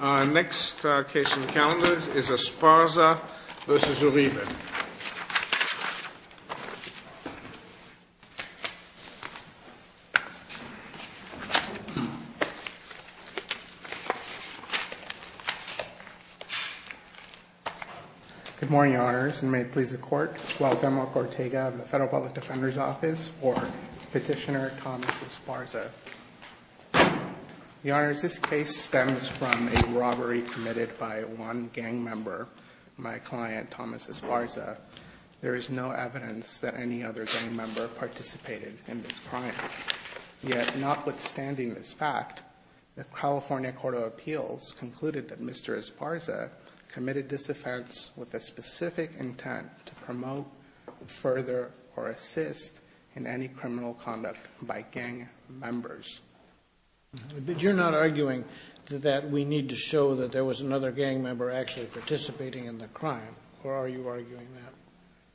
Our next case on the calendar is Esparza v. Uribe. Good morning, Your Honors, and may it please the Court, Gualdemoc Ortega of the Federal Public Defender's Office for Petitioner Thomas Esparza. Your Honors, this case stems from a robbery committed by one gang member, my client Thomas Esparza. There is no evidence that any other gang member participated in this crime. Yet, notwithstanding this fact, the California Court of Appeals concluded that Mr. Esparza committed this offense with a specific intent to promote further or assist in any criminal conduct by gang members. But you're not arguing that we need to show that there was another gang member actually involved in the crime, are you arguing that?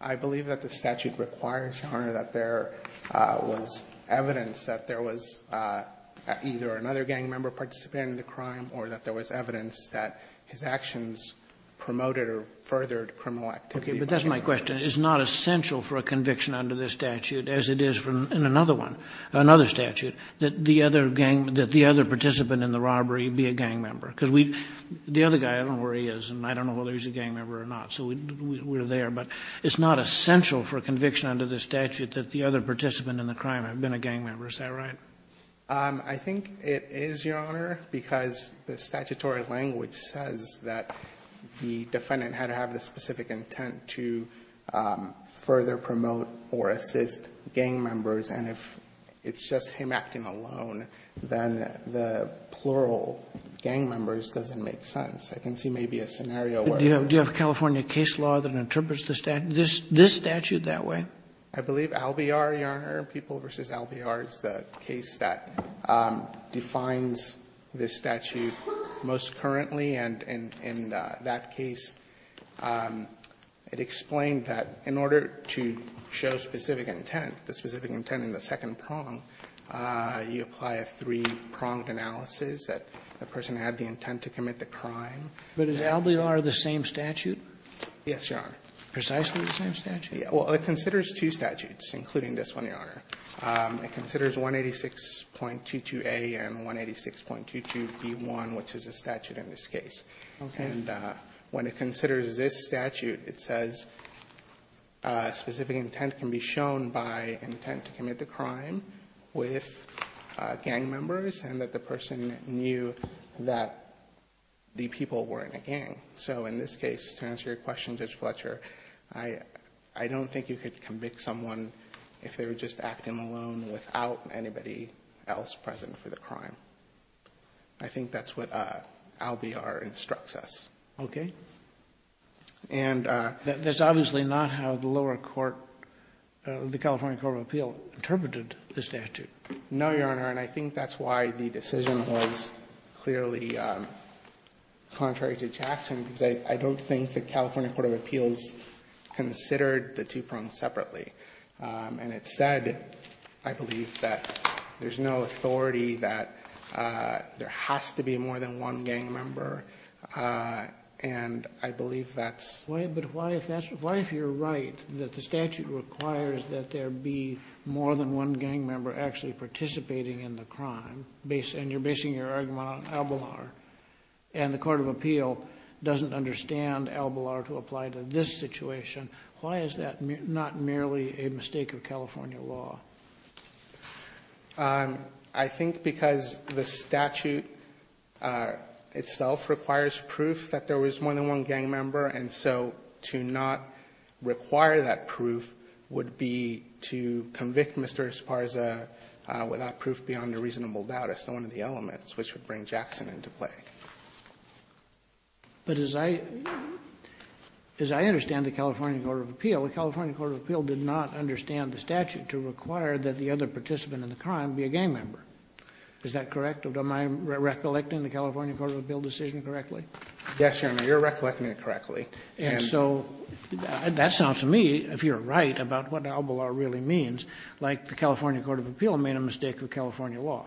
I believe that the statute requires, Your Honor, that there was evidence that there was either another gang member participating in the crime or that there was evidence that his actions promoted or furthered criminal activity by gang members. Okay. But that's my question. It's not essential for a conviction under this statute, as it is in another one, another statute, that the other gang, that the other participant in the robbery be a gang member. Because we, the other guy, I don't know where he is and I don't know whether he's a gang member or not. So we're there, but it's not essential for a conviction under the statute that the other participant in the crime had been a gang member, is that right? I think it is, Your Honor, because the statutory language says that the defendant had to have the specific intent to further promote or assist gang members, and if it's just him acting alone, then the plural gang members doesn't make sense. I can see maybe a scenario where. Do you have California case law that interprets the statute, this statute, that way? I believe Albiar, Your Honor, People v. Albiar is the case that defines this statute most currently, and in that case, it explained that in order to show specific intent, the specific intent in the second prong, you apply a three-pronged analysis that the person had the intent to commit the crime. But is Albiar the same statute? Yes, Your Honor. Precisely the same statute? Well, it considers two statutes, including this one, Your Honor. It considers 186.22a and 186.22b1, which is the statute in this case. Okay. And when it considers this statute, it says specific intent can be shown by intent to commit the crime with gang members, and that the person knew that the people weren't a gang. So in this case, to answer your question, Judge Fletcher, I don't think you could convict someone if they were just acting alone without anybody else present for the crime. I think that's what Albiar instructs us. Okay. And the lawyer court, the California Court of Appeals, interpreted this statute. No, Your Honor, and I think that's why the decision was clearly contrary to Jackson, because I don't think the California Court of Appeals considered the two prongs separately. And it said, I believe, that there's no authority that there has to be more than one gang member, and I believe that's why. But why if that's why, if you're right, that the statute requires that there be more than one gang member actually participating in the crime, and you're basing your argument on Albiar, and the court of appeal doesn't understand Albiar to apply to this situation. Why is that not merely a mistake of California law? I think because the statute itself requires proof that there was more than one gang member, and so to not require that proof would be to convict Mr. Esparza without proof beyond a reasonable doubt as one of the elements, which would bring Jackson into play. But as I understand the California Court of Appeals, the California Court of Appeals did not understand the statute to require that the other participant in the crime be a gang member, is that correct? Am I recollecting the California Court of Appeals decision correctly? Yes, Your Honor, you're recollecting it correctly. And so that sounds to me, if you're right, about what Albiar really means, like the California Court of Appeals made a mistake of California law.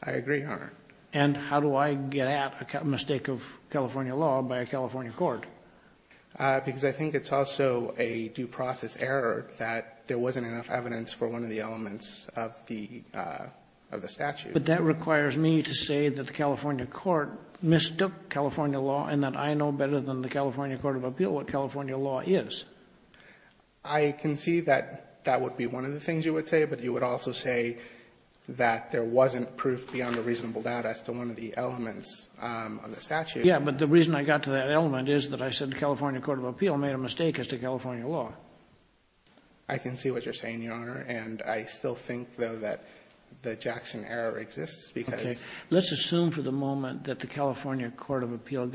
I agree, Your Honor. And how do I get at a mistake of California law by a California court? Because I think it's also a due process error that there wasn't enough evidence for one of the elements of the statute. But that requires me to say that the California court mistook California law and that I know better than the California court of appeal what California law is. I can see that that would be one of the things you would say, but you would also say that there wasn't proof beyond a reasonable doubt as to one of the elements of the statute. Yes, but the reason I got to that element is that I said the California court of appeal made a mistake as to California law. I can see what you're saying, Your Honor, and I still think, though, that the Jackson error exists, because the other participant in the robbery of the taxi driver was a member of the California court of appeals.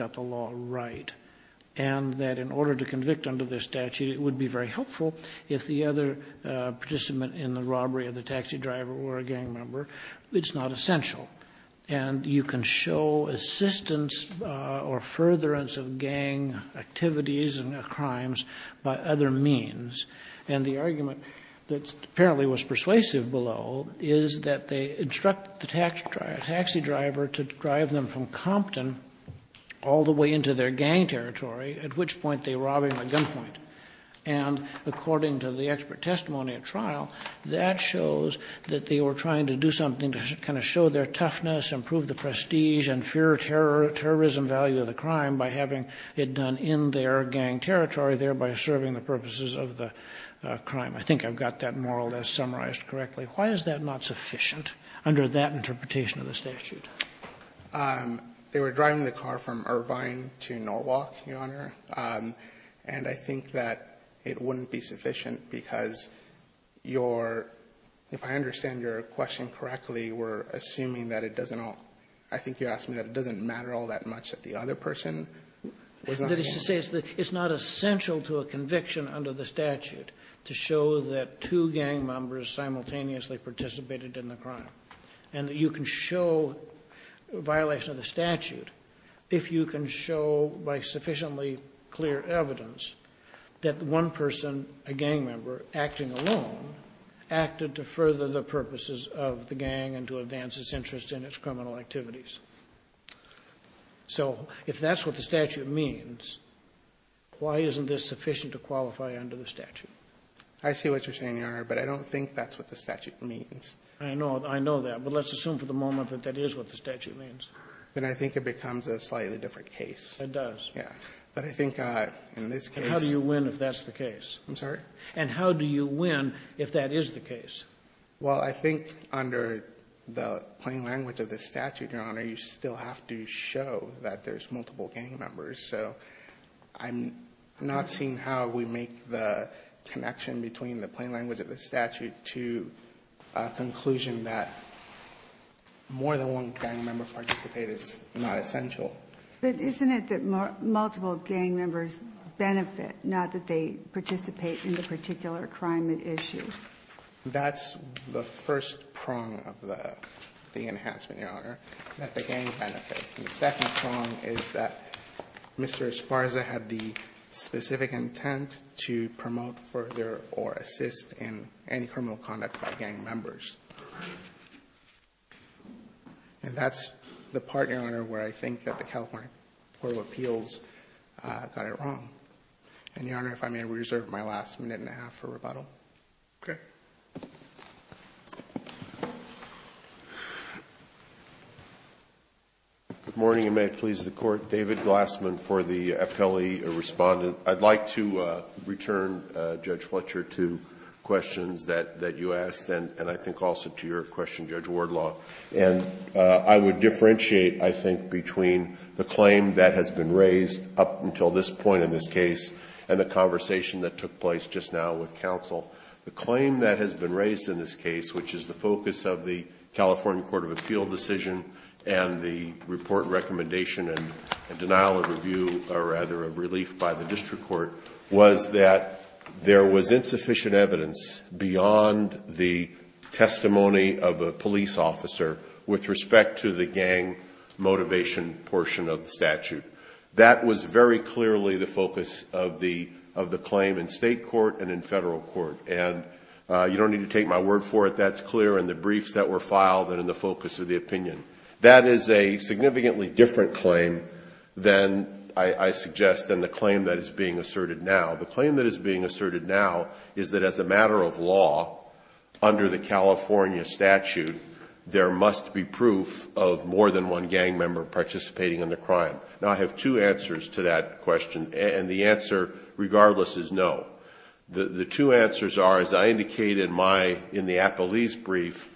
And you can show assistance or furtherance of gang activities and crimes by other means, and the argument that apparently was persuasive below is that they instruct the taxi driver to drive them from Compton all the way into their gang territory, at which point they rob him at gunpoint. And according to the expert testimony at trial, that shows that they were trying to do something to kind of show their toughness, improve the prestige, and fear terrorism value of the crime by having it done in their gang territory, thereby serving the purposes of the crime. I think I've got that more or less summarized correctly. Why is that not sufficient under that interpretation of the statute? They were driving the car from Irvine to Norwalk, Your Honor, and I think that it wouldn't be sufficient because your – if I understand your question correctly, we're assuming that it doesn't all – I think you asked me that it doesn't matter all that much that the other person was not involved. It's not essential to a conviction under the statute to show that two gang members simultaneously participated in the crime, and you can show violation of the statute if you can show by sufficiently clear evidence that one person, a gang member acting alone, acted to further the purposes of the gang and to advance its interests in its criminal activities. So if that's what the statute means, why isn't this sufficient to qualify under the statute? I see what you're saying, Your Honor, but I don't think that's what the statute means. I know. I know that. But let's assume for the moment that that is what the statute means. Then I think it becomes a slightly different case. It does. Yeah. But I think in this case – And how do you win if that's the case? I'm sorry? And how do you win if that is the case? Well, I think under the plain language of the statute, Your Honor, you still have to show that there's multiple gang members. So I'm not seeing how we make the connection between the plain language of the statute to a conclusion that more than one gang member participate is not essential. But isn't it that multiple gang members benefit, not that they participate in the particular crime at issue? That's the first prong of the enhancement, Your Honor, that the gang benefit. The second prong is that Mr. Esparza had the specific intent to promote further or assist in any criminal conduct by gang members. And that's the part, Your Honor, where I think that the California Court of Appeals got it wrong. And, Your Honor, if I may reserve my last minute and a half for rebuttal. Okay. Good morning, and may it please the Court. David Glassman for the FLE Respondent. I'd like to return, Judge Fletcher, to questions that you asked and I think also to your question, Judge Wardlaw. And I would differentiate, I think, between the claim that has been raised up until this point in this case and the conversation that took place just now with counsel. The claim that has been raised in this case, which is the focus of the California District Court, was that there was insufficient evidence beyond the testimony of a police officer with respect to the gang motivation portion of the statute. That was very clearly the focus of the claim in state court and in federal court. And you don't need to take my word for it. That's clear in the briefs that were filed and in the focus of the opinion. That is a significantly different claim than, I suggest, than the claim that is being asserted now. The claim that is being asserted now is that, as a matter of law, under the California statute, there must be proof of more than one gang member participating in the crime. Now, I have two answers to that question, and the answer, regardless, is no. The two answers are, as I indicated in my, in the Appellee's brief,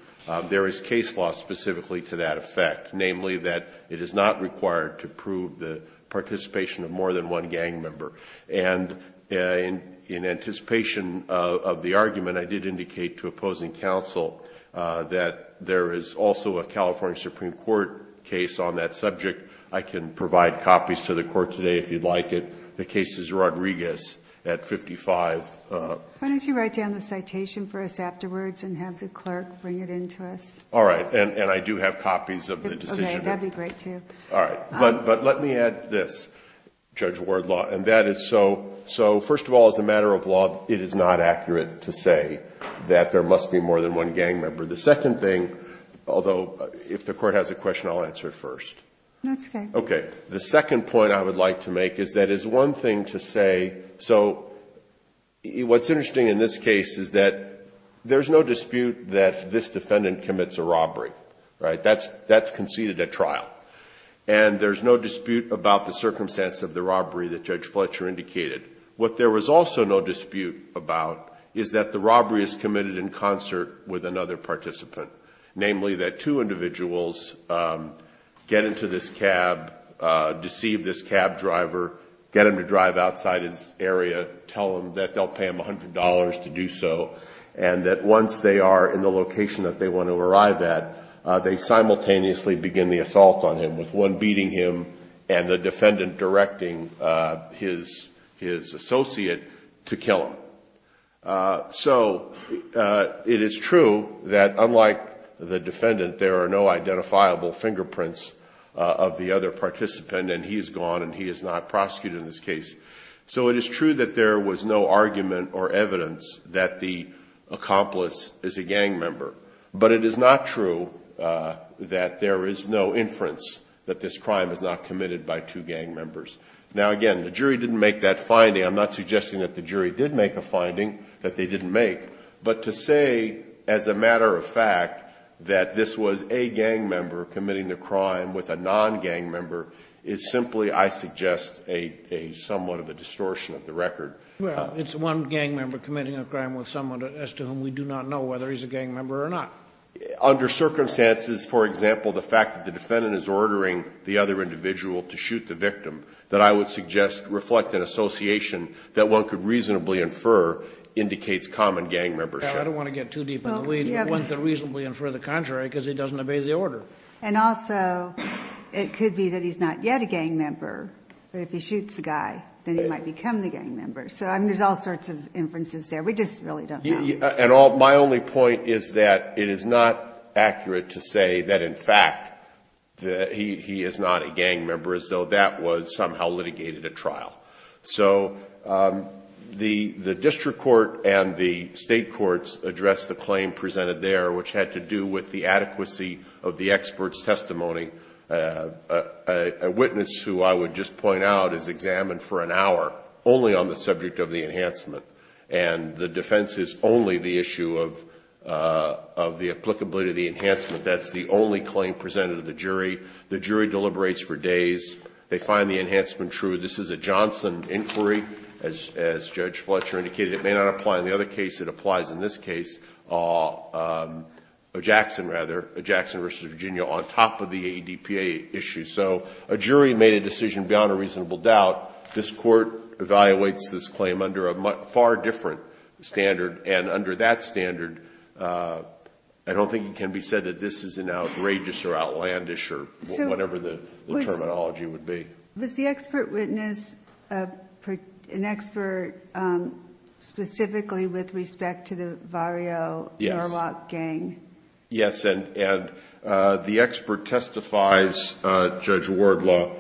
there is case law specifically to that effect, namely that it is not required to prove the participation of more than one gang member. And in anticipation of the argument, I did indicate to opposing counsel that there is also a California Supreme Court case on that subject. I can provide copies to the Court today, if you'd like it. The case is Rodriguez at 55. Why don't you write down the citation for us afterwards and have the clerk bring it in to us? All right. And I do have copies of the decision. Okay. That would be great, too. All right. But let me add this, Judge Wardlaw, and that is so, so first of all, as a matter of law, it is not accurate to say that there must be more than one gang member. The second thing, although, if the Court has a question, I'll answer it first. No, it's okay. Okay. The second point I would like to make is that it's one thing to say, so what's interesting in this case is that there's no dispute that this defendant commits a robbery, right? That's conceded at trial. And there's no dispute about the circumstance of the robbery that Judge Fletcher indicated. What there was also no dispute about is that the robbery is committed in concert with another participant, namely that two individuals get into this cab, deceive this cab driver, get him to drive outside his area, tell him that they'll pay him $100 to do so, and that once they are in the location that they want to arrive at, they simultaneously begin the assault on him, with one beating him and the defendant directing his associate to kill him. So it is true that unlike the defendant, there are no identifiable fingerprints of the other participant, and he is gone, and he is not prosecuted in this case. So it is true that there was no argument or evidence that the accomplice is a gang member. But it is not true that there is no inference that this crime is not committed by two gang members. Now, again, the jury didn't make that finding. I'm not suggesting that the jury did make a finding that they didn't make. But to say as a matter of fact that this was a gang member committing the crime with a non-gang member is simply, I suggest, a somewhat of a distortion of the record. Well, it's one gang member committing a crime with someone as to whom we do not know whether he's a gang member or not. Under circumstances, for example, the fact that the defendant is ordering the other individual to shoot the victim that I would suggest reflect an association that one could reasonably infer indicates common gang membership. I don't want to get too deep in the weeds, but one could reasonably infer the contrary because he doesn't obey the order. And also it could be that he's not yet a gang member, but if he shoots the guy, then he might become the gang member. So, I mean, there's all sorts of inferences there. We just really don't know. And all my only point is that it is not accurate to say that, in fact, that he is not a gang member, as though that was somehow litigated at trial. So the district court and the State courts addressed the claim presented there, which had to do with the adequacy of the expert's testimony. A witness who I would just point out is examined for an hour only on the subject of the enhancement, and the defense is only the issue of the applicability of the enhancement. That's the only claim presented to the jury. The jury deliberates for days. They find the enhancement true. This is a Johnson inquiry, as Judge Fletcher indicated. It may not apply in the other case. It applies in this case, Jackson, rather, Jackson v. Virginia, on top of the ADPA issue. So a jury made a decision beyond a reasonable doubt. This Court evaluates this claim under a far different standard, and under that standard, I don't think it can be said that this is an outrageous or outlandish or whatever the terminology would be. Was the expert witness an expert specifically with respect to the Varjo-Murlock gang? Yes. And the expert testifies, Judge Wardlaw,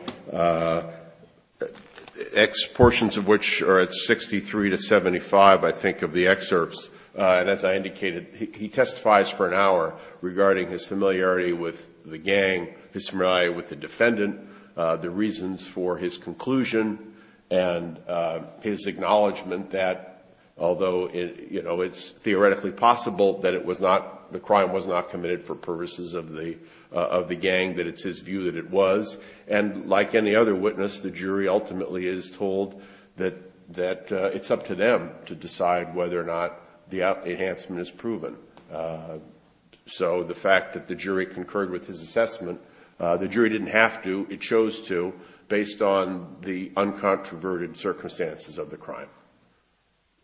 portions of which are at 63 to 75, I think, of the excerpts. And as I indicated, he testifies for an hour regarding his familiarity with the gang, his familiarity with the defendant, the reasons for his conclusion, and his acknowledgment that although, you know, it's theoretically possible that it was not the crime was not committed for purposes of the gang, that it's his view that it was. And like any other witness, the jury ultimately is told that it's up to them to decide whether or not the enhancement is proven. So the fact that the jury concurred with his assessment, the jury didn't have to, it chose to, based on the uncontroverted circumstances of the crime.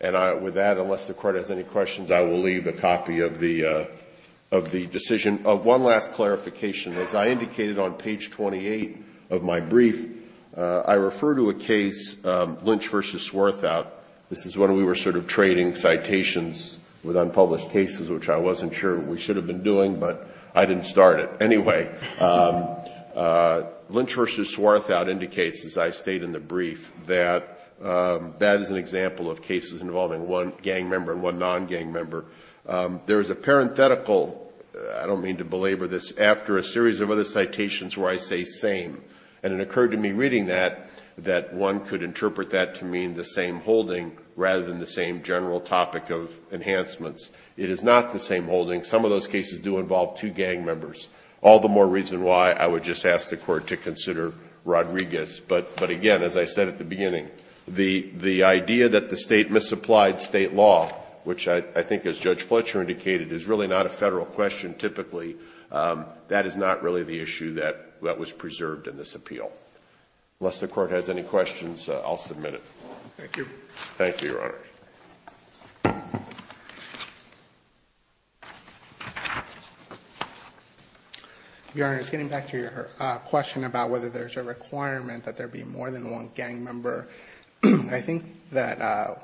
And with that, unless the Court has any questions, I will leave a copy of the decision. One last clarification. As I indicated on page 28 of my brief, I refer to a case, Lynch v. Swarthout. This is when we were sort of trading citations with unpublished cases, which I wasn't sure we should have been doing, but I didn't start it. Anyway, Lynch v. Swarthout indicates, as I state in the brief, that that is an example of cases involving one gang member and one non-gang member. There is a parenthetical, I don't mean to belabor this, after a series of other citations where I say same. And it occurred to me reading that that one could interpret that to mean the same holding rather than the same general topic of enhancements. It is not the same holding. Some of those cases do involve two gang members. All the more reason why I would just ask the Court to consider Rodriguez. But, again, as I said at the beginning, the idea that the State misapplied State law, which I think, as Judge Fletcher indicated, is really not a Federal question typically, that is not really the issue that was preserved in this appeal. Unless the Court has any questions, I'll submit it. Thank you. Thank you, Your Honor. Your Honor, getting back to your question about whether there's a requirement that there be more than one gang member, I think that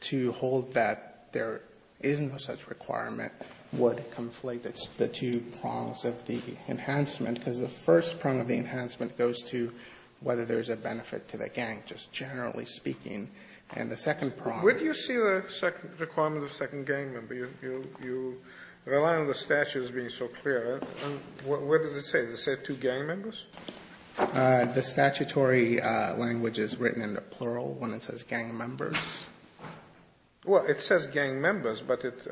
to hold that there is no such requirement would conflate the two prongs of the enhancement, because the first prong of the enhancement goes to whether there's a benefit to the gang, just generally speaking. And the second prong is the same. Sotomayor, where do you see the requirement of the second gang member? You rely on the statute as being so clear. What does it say? Does it say two gang members? The statutory language is written in the plural when it says gang members. Well, it says gang members, but it's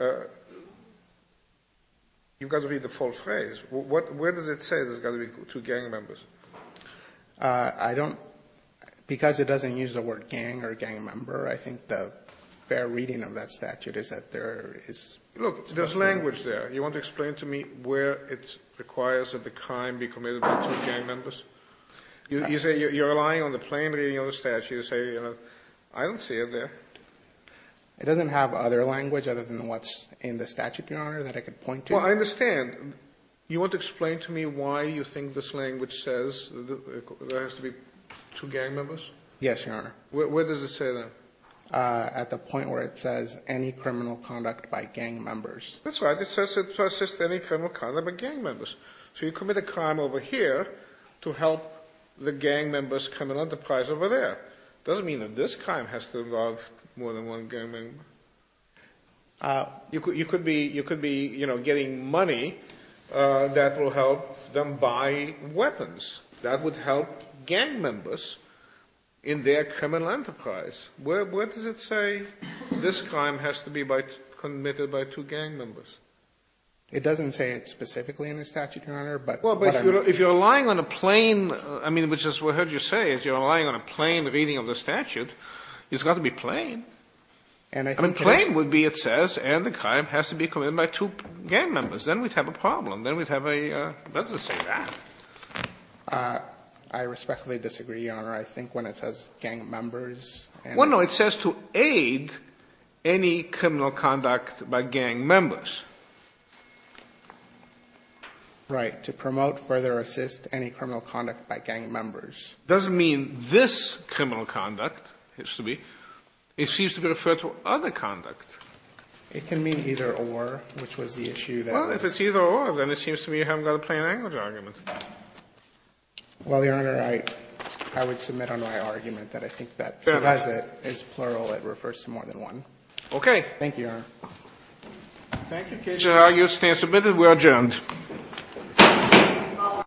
you've got to read the full phrase. Where does it say there's got to be two gang members? I don't. Because it doesn't use the word gang or gang member, I think the fair reading of that statute is that there is. Look, there's language there. You want to explain to me where it requires that the crime be committed by two gang members? You say you're relying on the plain reading of the statute. You say I don't see it there. It doesn't have other language other than what's in the statute, Your Honor, that I could point to. Well, I understand. You want to explain to me why you think this language says there has to be two gang members? Yes, Your Honor. Where does it say that? At the point where it says any criminal conduct by gang members. That's right. It says to assist any criminal conduct by gang members. So you commit a crime over here to help the gang members' criminal enterprise over there. It doesn't mean that this crime has to involve more than one gang member. You could be, you know, getting money that will help them buy weapons. That would help gang members in their criminal enterprise. Where does it say this crime has to be committed by two gang members? It doesn't say it specifically in the statute, Your Honor, but whatever. If you're relying on a plain, I mean, which is what I heard you say, if you're relying on a plain reading of the statute, it's got to be plain. I mean, plain would be, it says, and the crime has to be committed by two gang members. Then we'd have a problem. Then we'd have a, where does it say that? I respectfully disagree, Your Honor. I think when it says gang members. Well, no. It says to aid any criminal conduct by gang members. Right. To promote, further assist any criminal conduct by gang members. It doesn't mean this criminal conduct has to be. It seems to be referred to other conduct. It can mean either or, which was the issue that was. Well, if it's either or, then it seems to me you haven't got a plain language argument. Well, Your Honor, I would submit on my argument that I think that. Fair enough. Because it is plural. It refers to more than one. Okay. Thank you, Your Honor. Thank you. The case is submitted. We are adjourned. Thank you. We are adjourned. Thank you.